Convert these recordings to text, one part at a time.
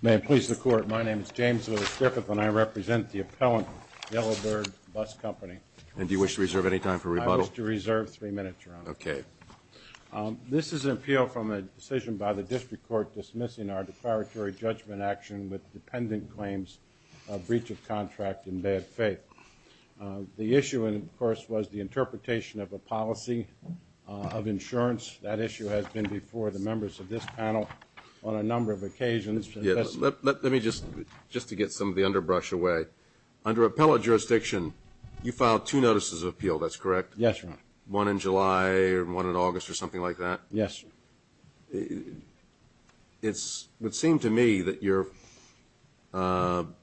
May it please the Court, my name is James Lewis Griffith and I represent the appellant Yellowbird Bus Company. And do you wish to reserve any time for rebuttal? I wish to reserve three minutes, Your Honor. Okay. This is an appeal from a decision by the District Court dismissing our declaratory judgment action with dependent claims of breach of contract in bad faith. The issue, of course, was the interpretation of a policy of insurance. That issue has been before the members of this panel on a number of occasions. Let me just, just to get some of the underbrush away. Under appellate jurisdiction, you filed two notices of appeal, that's correct? Yes, Your Honor. One in July and one in August or something like that? Yes, Your Honor. It would seem to me that you filed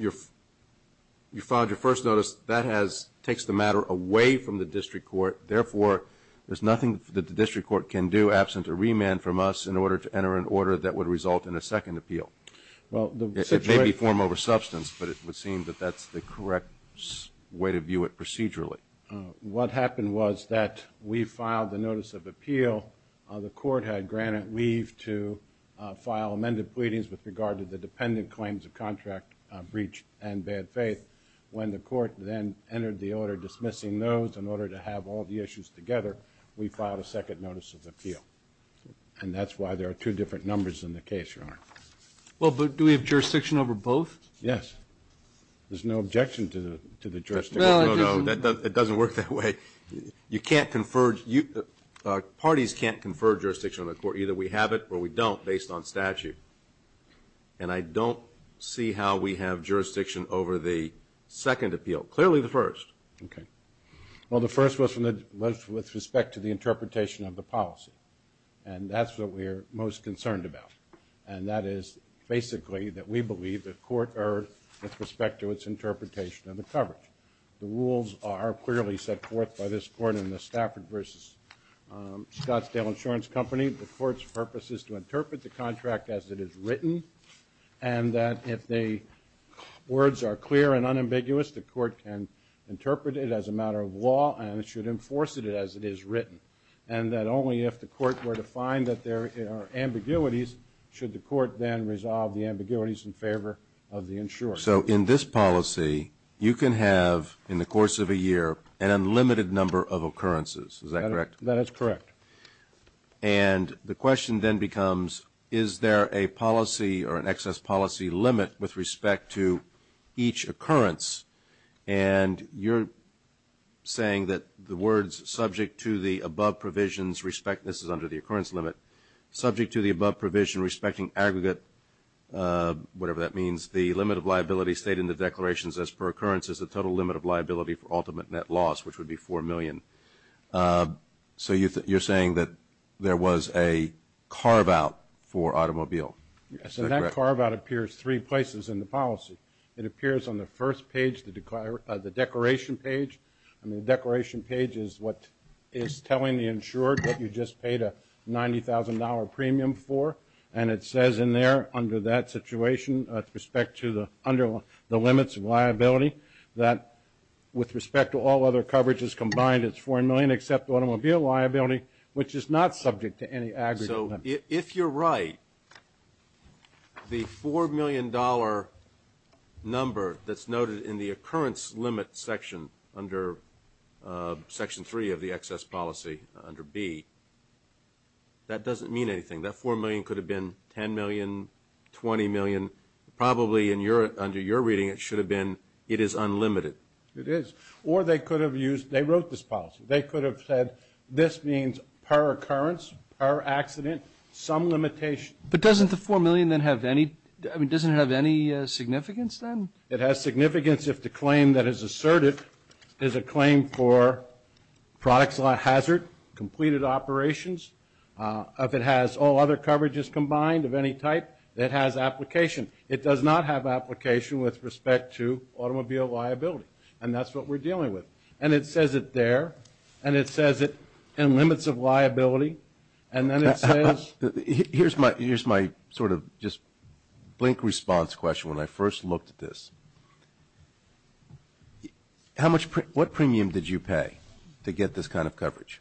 your first notice, that takes the matter away from the District Court. Therefore, there's nothing that the District Court can do absent a remand from us in order to enter an order that would result in a second appeal. It may be form over substance, but it would seem that that's the correct way to view it procedurally. What happened was that we filed the notice of appeal. The court had granted leave to file amended pleadings with regard to the dependent claims of contract breach and bad faith. When the court then entered the order dismissing those in order to have all the issues together, we filed a second notice of appeal. And that's why there are two different numbers in the case, Your Honor. Well, but do we have jurisdiction over both? Yes. There's no objection to the jurisdiction. No, no, no. It doesn't work that way. You can't confer, parties can't confer jurisdiction on the court. Either we have it or we don't based on statute. And I don't see how we have jurisdiction over the second appeal, clearly the first. Okay. Well, the first was with respect to the interpretation of the policy. And that's what we're most concerned about. And that is basically that we believe the court erred with respect to its interpretation of the coverage. The rules are clearly set forth by this court in the Stafford versus Scottsdale Insurance Company. The court's purpose is to interpret the contract as it is written. And that if the words are clear and unambiguous, the court can interpret it as a matter of law and it should enforce it as it is written. And that only if the court were to find that there are ambiguities should the court then resolve the ambiguities in favor of the insurer. So in this policy, you can have, in the course of a year, an unlimited number of occurrences. Is that correct? That is correct. And the question then becomes, is there a policy or an excess policy limit with respect to each occurrence? And you're saying that the words subject to the above provisions respect, this is under the occurrence limit, subject to the above provision respecting aggregate, whatever that liability state in the declarations as per occurrences, the total limit of liability for ultimate net loss, which would be $4 million. So you're saying that there was a carve-out for automobile. Yes, and that carve-out appears three places in the policy. It appears on the first page, the declaration page. I mean, the declaration page is what is telling the insurer that you just paid a $90,000 premium for. And it says in there, under that situation, with respect to the limits of liability, that with respect to all other coverages combined, it's $4 million except automobile liability, which is not subject to any aggregate limit. So if you're right, the $4 million number that's noted in the occurrence limit section under Section 3 of the excess policy, under B, that doesn't mean anything. That $4 million could have been $10 million, $20 million. Probably under your reading, it should have been, it is unlimited. It is. Or they could have used, they wrote this policy. They could have said, this means per occurrence, per accident, some limitation. But doesn't the $4 million then have any, I mean, doesn't it have any significance then? It has significance if the claim that is asserted is a claim for products at hazard, completed operations, if it has all other coverages combined of any type, it has application. It does not have application with respect to automobile liability. And that's what we're dealing with. And it says it there. And it says it in limits of liability. And then it says. Here's my sort of just blink response question when I first looked at this. How much, what premium did you pay to get this kind of coverage?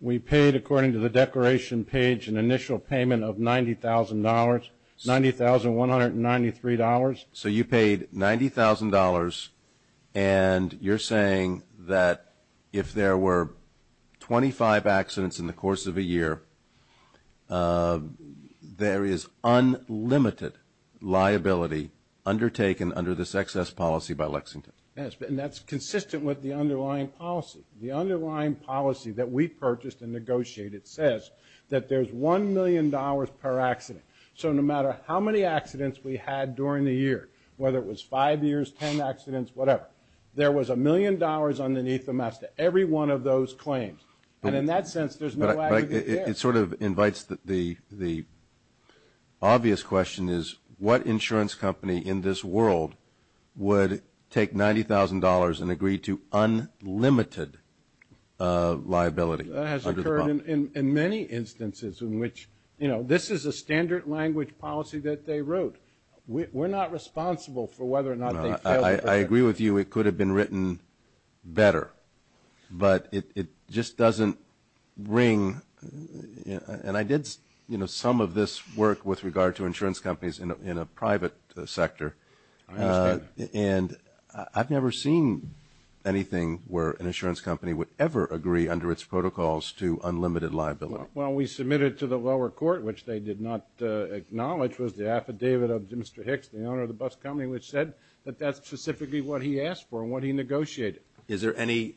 We paid, according to the declaration page, an initial payment of $90,000, $90,193. So you paid $90,000 and you're saying that if there were 25 accidents in the course of a year, there is unlimited liability undertaken under this excess policy by Lexington? Yes. And that's consistent with the underlying policy. The underlying policy that we purchased and negotiated says that there's $1 million per accident. So no matter how many accidents we had during the year, whether it was five years, 10 accidents, whatever, there was a million dollars underneath the mask to every one of those claims. And in that sense, there's no aggravated error. It sort of invites the obvious question is what insurance company in this world would take $90,000 and agree to unlimited liability under the bond? That has occurred in many instances in which, you know, this is a standard language policy that they wrote. We're not responsible for whether or not they failed. I agree with you. It could have been written better, but it just doesn't ring. And I did, you know, some of this work with regard to insurance companies in a private sector. I understand that. And I've never seen anything where an insurance company would ever agree under its protocols to unlimited liability. Well, we submitted to the lower court, which they did not acknowledge, was the affidavit of Mr. Hicks, the owner of the bus company, which said that that's specifically what he asked for and what he negotiated. Is there any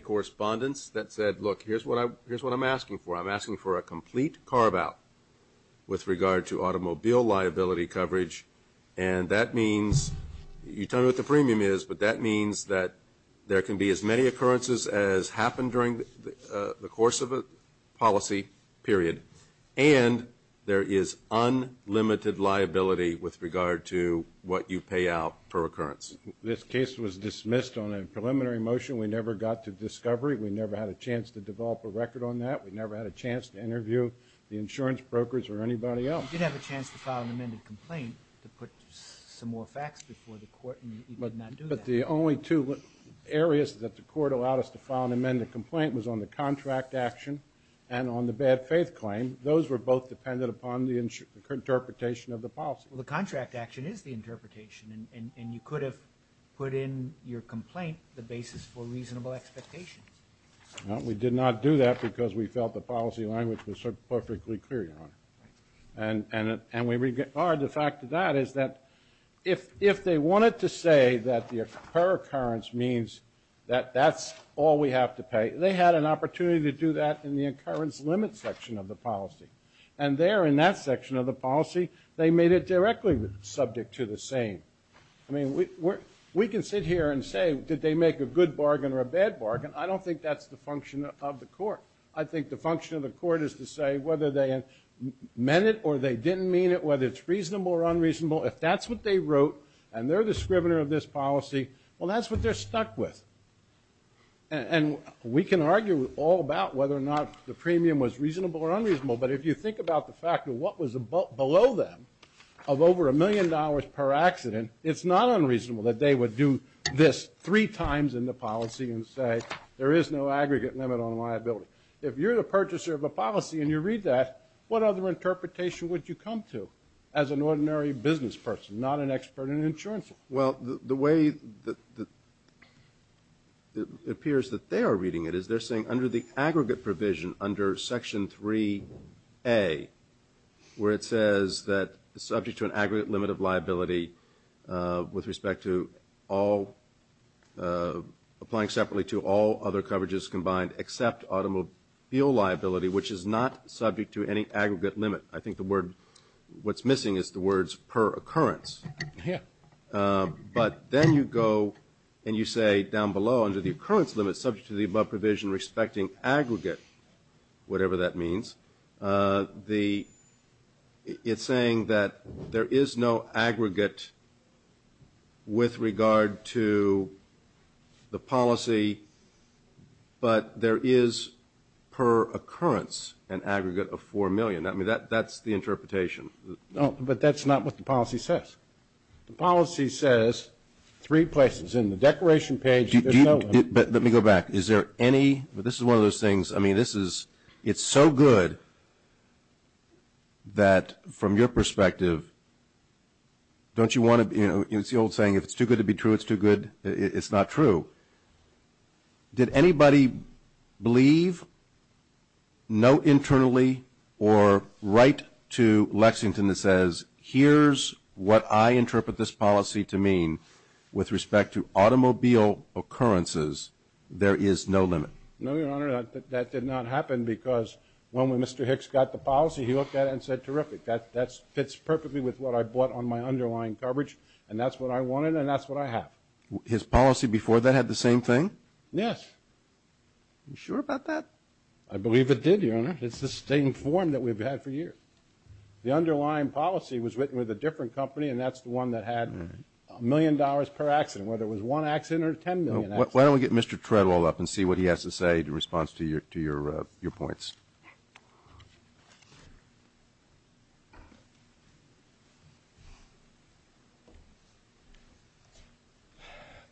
correspondence that said, look, here's what I'm asking for. I'm asking for a complete carve out with regard to automobile liability coverage. And that means, you tell me what the premium is, but that means that there can be as many occurrences as happened during the course of a policy period, and there is unlimited liability with regard to what you pay out per occurrence. This case was dismissed on a preliminary motion. We never got to discovery. We never had a chance to develop a record on that. We never had a chance to interview the insurance brokers or anybody else. You did have a chance to file an amended complaint to put some more facts before the court, and you did not do that. But the only two areas that the court allowed us to file an amended complaint was on the contract action and on the bad faith claim. Those were both dependent upon the interpretation of the policy. Well, the contract action is the interpretation, and you could have put in your complaint the basis for reasonable expectations. Well, we did not do that because we felt the policy language was so perfectly clear, Your Honor, and we regard the fact of that is that if they wanted to say that the per occurrence means that that's all we have to pay, they had an opportunity to do that in the occurrence limit section of the policy. And there in that section of the policy, they made it directly subject to the same. I mean, we can sit here and say, did they make a good bargain or a bad bargain? I think the function of the court is to say whether they meant it or they didn't mean it, whether it's reasonable or unreasonable, if that's what they wrote and they're the scrivener of this policy, well, that's what they're stuck with. And we can argue all about whether or not the premium was reasonable or unreasonable, but if you think about the fact of what was below them of over a million dollars per accident, it's not unreasonable that they would do this three times in the policy and say there is no aggregate limit on liability. If you're the purchaser of a policy and you read that, what other interpretation would you come to as an ordinary business person, not an expert in insurance law? Well, the way it appears that they are reading it is they're saying under the aggregate provision under section 3A, where it says that subject to an aggregate limit of liability with respect to all – applying separately to all other coverages combined except automobile liability, which is not subject to any aggregate limit. I think the word – what's missing is the words per occurrence. But then you go and you say down below under the occurrence limit subject to the above provision respecting aggregate, whatever that means, the – it's saying that there is no aggregate with regard to the policy, but there is per occurrence an aggregate of 4 million. I mean, that's the interpretation. No, but that's not what the policy says. The policy says three places. In the declaration page, there's no – But let me go back. Is there any – this is one of those things – I mean, this is – it's so good that from your perspective, don't you want to – it's the old saying, if it's too good to be true, it's too good – it's not true. Did anybody believe, note internally, or write to Lexington that says, here's what I interpret this policy to mean with respect to automobile occurrences? There is no limit. No, Your Honor, that did not happen because when Mr. Hicks got the policy, he looked at it and said, terrific, that fits perfectly with what I brought on my underlying coverage, and that's what I wanted, and that's what I have. His policy before that had the same thing? Yes. You sure about that? I believe it did, Your Honor. It's the same form that we've had for years. The underlying policy was written with a different company, and that's the one that had a million dollars per accident, whether it was one accident or 10 million accidents. Why don't we get Mr. Treadwell up and see what he has to say in response to your points?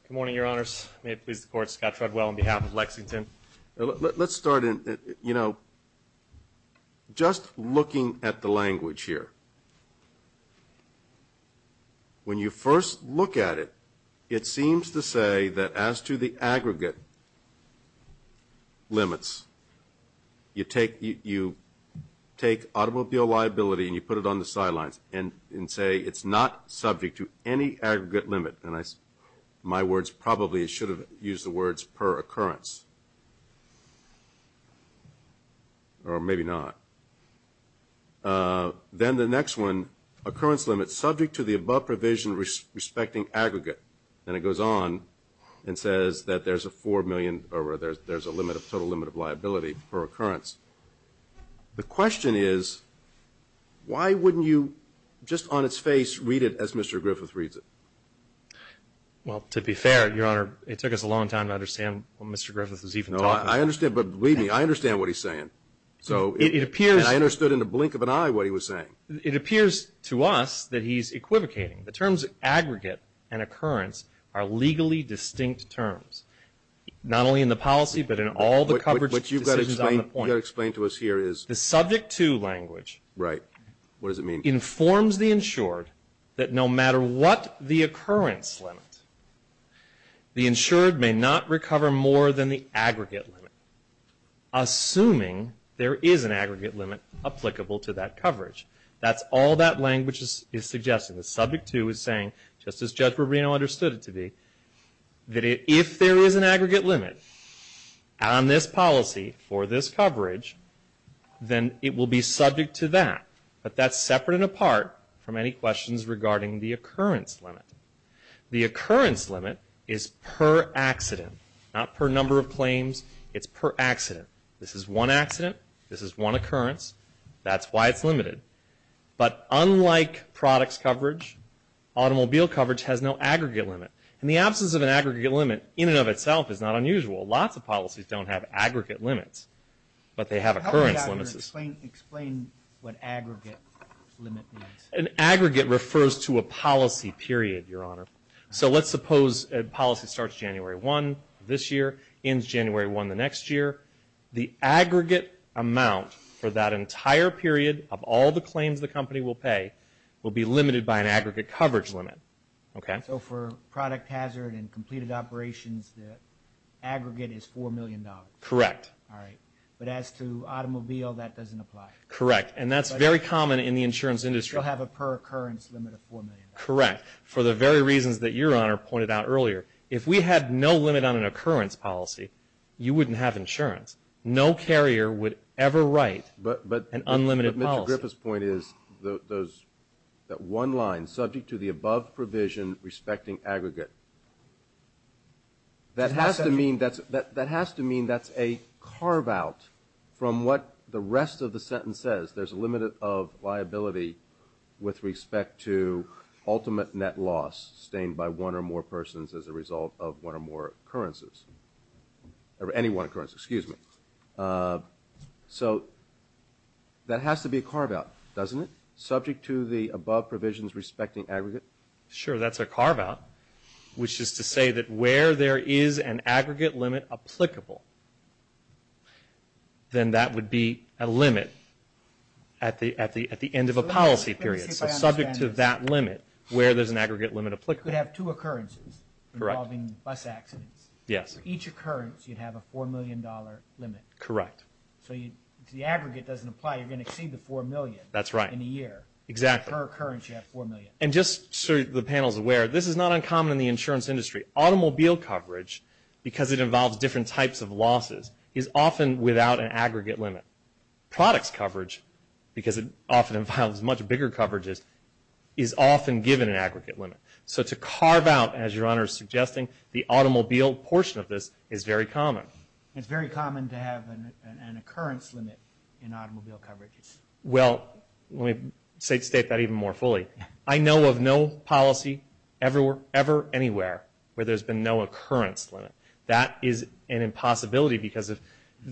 Good morning, Your Honors. May it please the Court, Scott Treadwell on behalf of Lexington. Let's start in – you know, just looking at the language here, when you first look at it, it seems to say that as to the aggregate limits, you take automobile liability and you put it on the sidelines and say it's not subject to any aggregate limit, and my words probably should have used the words per occurrence, or maybe not. Then the next one, occurrence limit subject to the above provision respecting aggregate, and it goes on and says that there's a total limit of liability per occurrence. The question is, why wouldn't you just on its face read it as Mr. Griffith reads it? Well, to be fair, Your Honor, it took us a long time to understand what Mr. Griffith was even talking about. No, I understand. But believe me, I understand what he's saying. So it appears – And I understood in the blink of an eye what he was saying. It appears to us that he's equivocating. The terms aggregate and occurrence are legally distinct terms, not only in the policy but in all the coverage decisions on the point. What you've got to explain to us here is – The subject to language – Right. What does it mean? Informs the insured that no matter what the occurrence limit, the insured may not recover more than the aggregate limit, assuming there is an aggregate limit applicable to that coverage. That's all that language is suggesting. The subject to is saying, just as Judge Rubino understood it to be, that if there is an aggregate limit on this policy for this coverage, then it will be subject to that. But that's separate and apart from any questions regarding the occurrence limit. The occurrence limit is per accident, not per number of claims. It's per accident. This is one accident. This is one occurrence. That's why it's limited. But unlike products coverage, automobile coverage has no aggregate limit. And the absence of an aggregate limit in and of itself is not unusual. Lots of policies don't have aggregate limits, but they have occurrence limits. Explain what aggregate limit means. An aggregate refers to a policy period, Your Honor. So let's suppose a policy starts January 1 this year, ends January 1 the next year. The aggregate amount for that entire period of all the claims the company will pay will be limited by an aggregate coverage limit. Okay? So for product hazard and completed operations, the aggregate is $4 million. Correct. All right. But as to automobile, that doesn't apply. Correct. And that's very common in the insurance industry. So you still have a per occurrence limit of $4 million. Correct. For the very reasons that Your Honor pointed out earlier. If we had no limit on an occurrence policy, you wouldn't have insurance. No carrier would ever write an unlimited policy. But Mr. Griffith's point is that one line, subject to the above provision respecting aggregate, that has to mean that's a carve-out from what the rest of the sentence says. There's a limit of liability with respect to ultimate net loss sustained by one or more persons as a result of one or more occurrences. Any one occurrence, excuse me. So that has to be a carve-out, doesn't it? Subject to the above provisions respecting aggregate? Sure. That's a carve-out, which is to say that where there is an aggregate limit applicable, then that would be a limit at the end of a policy period. So subject to that limit, where there's an aggregate limit applicable. You could have two occurrences involving bus accidents. Yes. For each occurrence, you'd have a $4 million limit. Correct. So if the aggregate doesn't apply, you're going to exceed the $4 million in a year. That's right. Exactly. Per occurrence, you have $4 million. And just so the panel is aware, this is not uncommon in the insurance industry. Automobile coverage, because it involves different types of losses, is often without an aggregate limit. Products coverage, because it often involves much bigger coverages, is often given an aggregate limit. So to carve out, as your Honor is suggesting, the automobile portion of this is very common. It's very common to have an occurrence limit in automobile coverages. Well, let me state that even more fully. I know of no policy ever anywhere where there's been no occurrence limit. That is an impossibility, because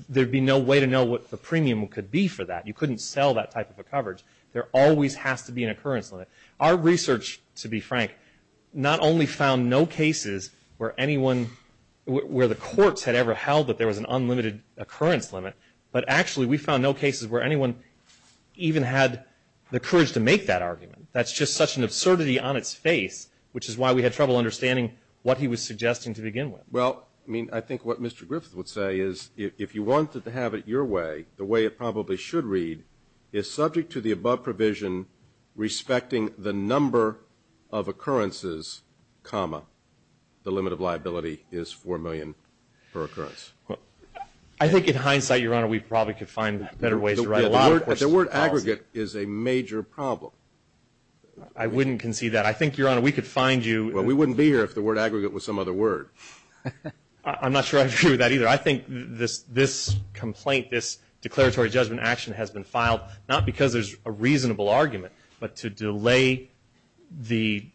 there'd be no way to know what the premium could be for that. You couldn't sell that type of a coverage. There always has to be an occurrence limit. Our research, to be frank, not only found no cases where anyone, where the courts had ever held that there was an unlimited occurrence limit, but actually we found no cases where anyone even had the courage to make that argument. That's just such an absurdity on its face, which is why we had trouble understanding what he was suggesting to begin with. Well, I mean, I think what Mr. Griffith would say is, if you wanted to have it your way, the way it probably should read, is subject to the above provision respecting the number of occurrences, comma, the limit of liability is $4 million per occurrence. I think in hindsight, your Honor, we probably could find better ways to write a lot of questions. The word aggregate is a major problem. I wouldn't concede that. I think, Your Honor, we could find you. Well, we wouldn't be here if the word aggregate was some other word. I'm not sure I agree with that either. I think this complaint, this declaratory judgment action has been filed not because there's a reasonable argument, but to delay the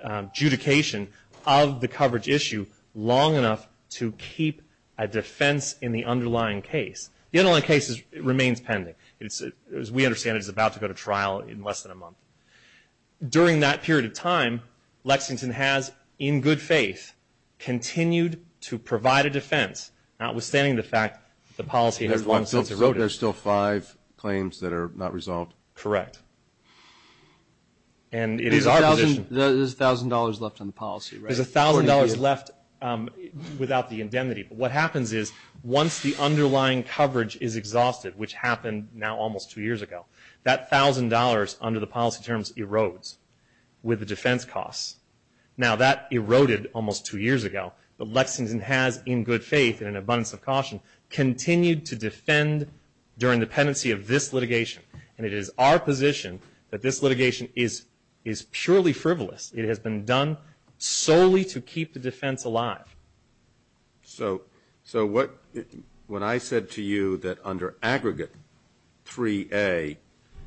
adjudication of the coverage issue long enough to keep a defense in the underlying case. The underlying case remains pending. As we understand it, it's about to go to trial in less than a month. During that period of time, Lexington has, in good faith, continued to provide a defense, notwithstanding the fact that the policy has long since eroded. So there's still five claims that are not resolved? Correct. And it is our position. There's $1,000 left on the policy, right? There's $1,000 left without the indemnity. What happens is, once the underlying coverage is exhausted, which happened now almost two years ago, that $1,000, under the policy terms, erodes with the defense costs. Now that eroded almost two years ago, but Lexington has, in good faith and in abundance of caution, continued to defend during the pendency of this litigation. And it is our position that this litigation is purely frivolous. It has been done solely to keep the defense alive. So, when I said to you that under aggregate 3A,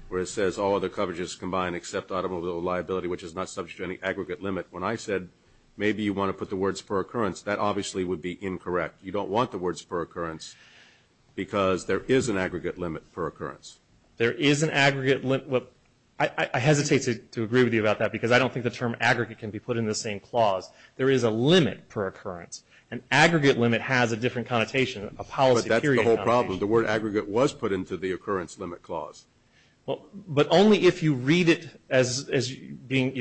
where it says all other coverages combined except automobile liability, which is not subject to any aggregate limit, when I said maybe you want to put the words per occurrence, that obviously would be incorrect. You don't want the words per occurrence because there is an aggregate limit per occurrence. There is an aggregate limit. I hesitate to agree with you about that because I don't think the term aggregate can be put in the same clause. There is a limit per occurrence. An aggregate limit has a different connotation, a policy period connotation. But that's the whole problem. The word aggregate was put into the occurrence limit clause. But only if you read it as you're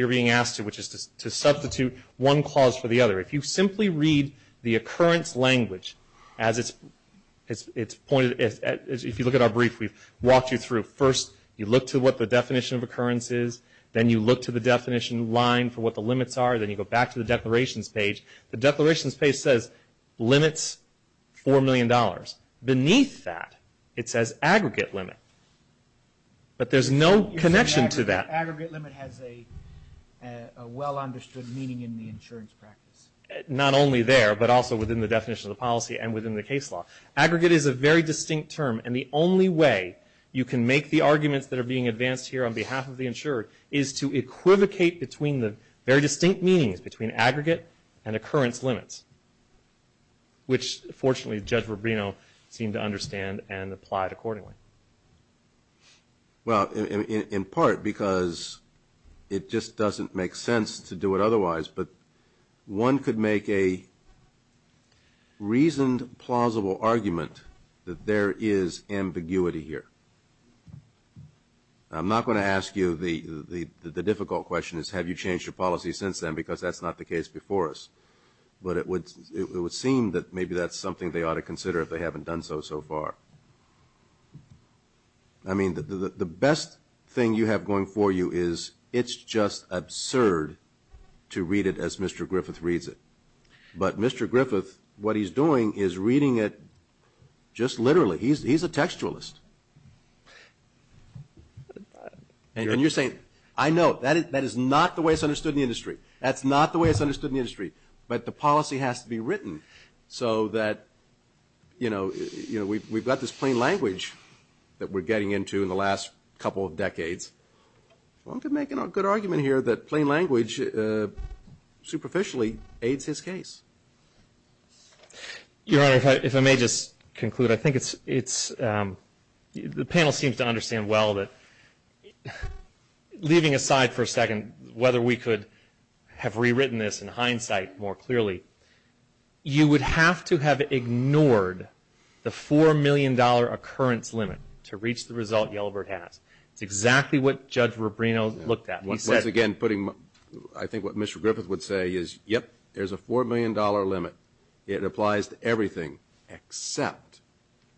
being asked to, which is to substitute one clause for the other. If you simply read the occurrence language as it's pointed, if you look at our brief, we've walked you through. First, you look to what the definition of occurrence is. Then you look to the definition line for what the limits are. Then you go back to the declarations page. The declarations page says limits $4 million. Beneath that, it says aggregate limit. But there's no connection to that. You're saying aggregate limit has a well understood meaning in the insurance practice? Not only there, but also within the definition of the policy and within the case law. Aggregate is a very distinct term. And the only way you can make the arguments that are being advanced here on behalf of the insured is to equivocate between the very distinct meanings between aggregate and occurrence limits, which, fortunately, Judge Rubino seemed to understand and applied accordingly. Well, in part, because it just doesn't make sense to do it otherwise. But one could make a reasoned, plausible argument that there is ambiguity here. I'm not going to ask you the difficult question is, have you changed your policy since then? Because that's not the case before us. But it would seem that maybe that's something they ought to consider if they haven't done so so far. I mean, the best thing you have going for you is, it's just absurd to read it as Mr. Griffith reads it. But Mr. Griffith, what he's doing is reading it just literally. He's a textualist. And you're saying, I know, that is not the way it's understood in the industry. That's not the way it's understood in the industry. But the policy has to be written so that we've got this plain language that we're getting into in the last couple of decades. One could make a good argument here that plain language superficially aids his case. Your Honor, if I may just conclude. I think it's, the panel seems to understand well that, leaving aside for a second, whether we could have rewritten this in hindsight more clearly. You would have to have ignored the $4 million occurrence limit to reach the result Yellowbird has. It's exactly what Judge Rubino looked at. He said. Once again, putting, I think what Mr. Griffith would say is, yep. There's a $4 million limit. It applies to everything except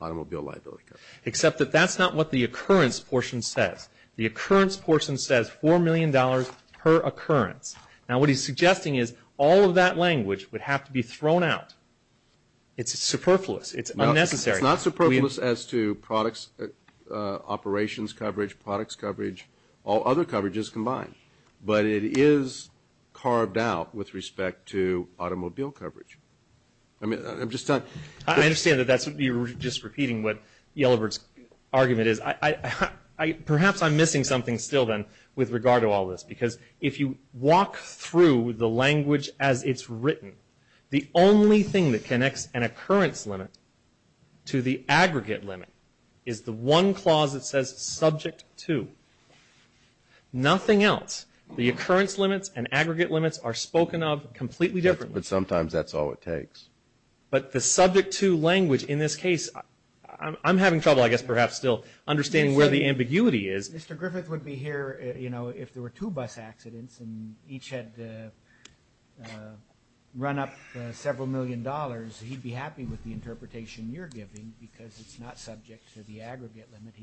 automobile liability coverage. Except that that's not what the occurrence portion says. The occurrence portion says $4 million per occurrence. Now what he's suggesting is all of that language would have to be thrown out. It's superfluous. It's unnecessary. It's not superfluous as to products, operations coverage, products coverage, all other coverages combined. But it is carved out with respect to automobile coverage. I mean, I'm just not. I understand that that's, you're just repeating what Yellowbird's argument is. I, I, I, perhaps I'm missing something still then with regard to all this. Because if you walk through the language as it's written, the only thing that connects an occurrence limit to the aggregate limit is the one clause that says subject to. Nothing else. The occurrence limits and aggregate limits are spoken of completely differently. But sometimes that's all it takes. But the subject to language in this case, I'm, I'm having trouble, I guess, perhaps, still understanding where the ambiguity is. Mr. Griffith would be here, you know, if there were two bus accidents and each had run up several million dollars, he'd be happy with the interpretation you're giving because it's not subject to the aggregate limit.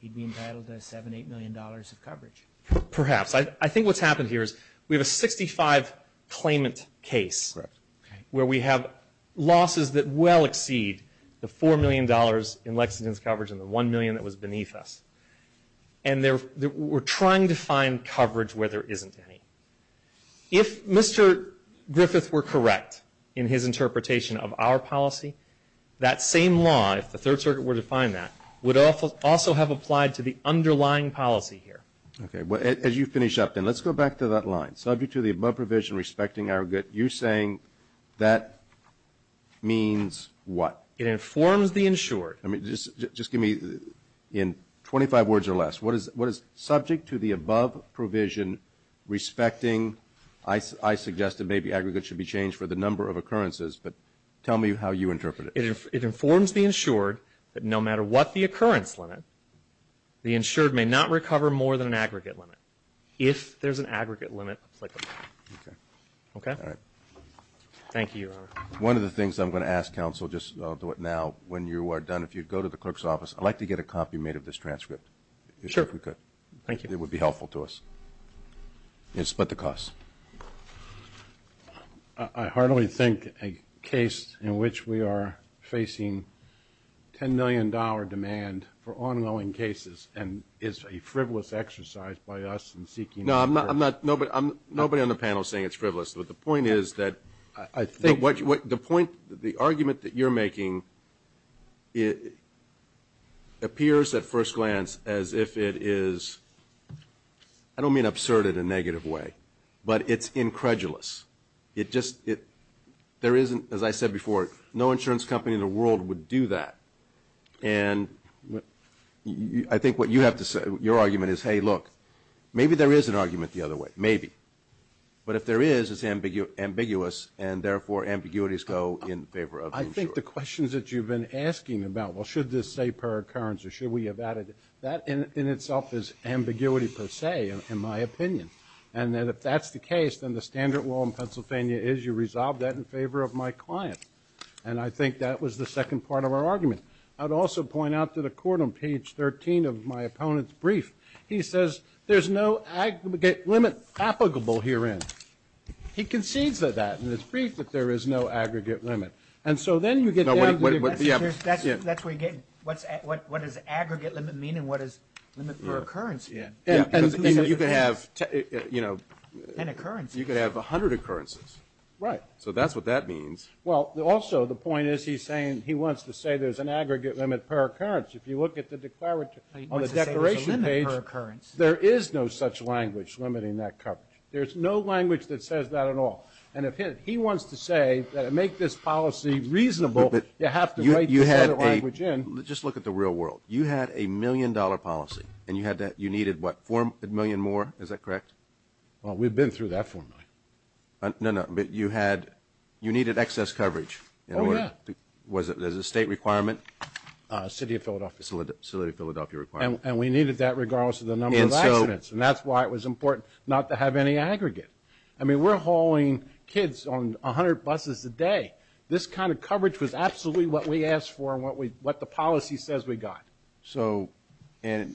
He'd be entitled to $7, $8 million of coverage. Perhaps. I think what's happened here is we have a 65 claimant case. Correct. Where we have losses that well exceed the $4 million in Lexington's coverage and the $1 million that was beneath us. And they're, they're, we're trying to find coverage where there isn't any. If Mr. Griffith were correct in his interpretation of our policy, that same law, if the Third Circuit were to find that, would also have applied to the underlying policy here. Okay, well, as you finish up then, let's go back to that line. Subject to the above provision respecting our good, you're saying that means what? It informs the insured. I mean, just, just give me in 25 words or less, what is, what is subject to the above provision respecting, I, I suggest that maybe aggregates should be changed for the number of occurrences, but tell me how you interpret it. It informs the insured that no matter what the occurrence limit, the insured may not recover more than an aggregate limit. If there's an aggregate limit applicable. Okay. Okay? All right. Thank you, Your Honor. One of the things I'm going to ask counsel, just I'll do it now, when you are done, if you'd go to the clerk's office, I'd like to get a copy made of this transcript. Sure. Thank you. It would be helpful to us. You can split the cost. I, I hardly think a case in which we are facing $10 million demand for ongoing cases and is a frivolous exercise by us in seeking. No, I'm not, I'm not, nobody, I'm, nobody on the panel is saying it's frivolous. But the point is that, I, I think, what, what, the point, the argument that you're making, it appears at first glance as if it is, I don't mean absurd in a negative way, but it's incredulous. It just, it, there isn't, as I said before, no insurance company in the world would do that. And I think what you have to say, your argument is, hey, look, maybe there is an argument the other way, maybe. But if there is, it's ambiguous, and therefore, ambiguities go in favor of insurance. I think the questions that you've been asking about, well, should this say per occurrence, or should we have added, that in, in itself is ambiguity per se, in, in my opinion. And then if that's the case, then the standard law in Pennsylvania is you resolve that in favor of my client. And I think that was the second part of our argument. I'd also point out to the court on page 13 of my opponent's brief. He says, there's no aggregate limit applicable herein. He concedes to that in his brief, that there is no aggregate limit. And so then you get down to the- Yeah. That's where you get, what's, what, what does aggregate limit mean, and what is limit per occurrence? Yeah. And, and you could have, you know. An occurrence. You could have 100 occurrences. Right. So that's what that means. Well, also, the point is, he's saying, he wants to say there's an aggregate limit per occurrence. If you look at the declarative, on the declaration page, there is no such language limiting that coverage. There's no language that says that at all. And if he, he wants to say that to make this policy reasonable, you have to write this other language in. You had a, just look at the real world. You had a million dollar policy. And you had that, you needed what, four million more? Is that correct? Well, we've been through that four million. No, no, but you had, you needed excess coverage. Oh yeah. Was it, there's a state requirement. City of Philadelphia. City of Philadelphia requirement. And we needed that regardless of the number of accidents. And that's why it was important not to have any aggregate. I mean, we're hauling kids on 100 buses a day. This kind of coverage was absolutely what we asked for and what we, what the policy says we got. So, and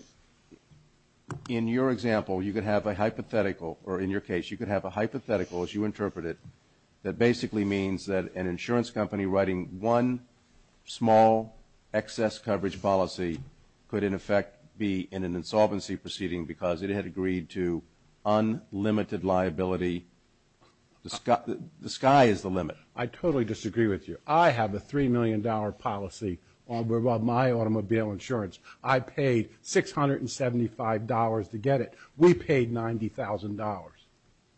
in your example, you could have a hypothetical, or in your case, you could have a hypothetical as you interpret it. That basically means that an insurance company writing one small excess coverage policy could, in effect, be in an insolvency proceeding because it had agreed to unlimited liability. The sky is the limit. I totally disagree with you. I have a three million dollar policy on my automobile insurance. I paid $675 to get it. We paid $90,000.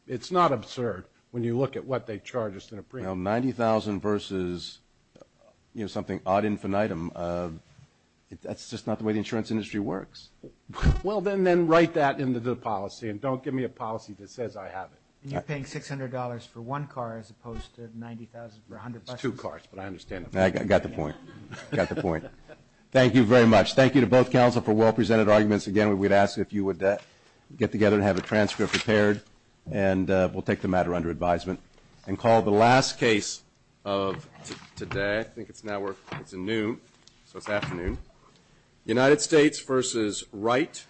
It's not absurd when you look at what they charge us in a premium. Well, $90,000 versus, you know, something odd infinitum, that's just not the way the insurance industry works. Well, then write that into the policy and don't give me a policy that says I have it. And you're paying $600 for one car as opposed to $90,000 for 100 buses? It's two cars, but I understand. I got the point. Got the point. Thank you very much. Thank you to both counsel for well presented arguments. Again, we'd ask if you would get together and have a transcript prepared, and we'll take the matter under advisement. And call the last case of today. I think it's now, it's noon, so it's afternoon. United States versus Wright.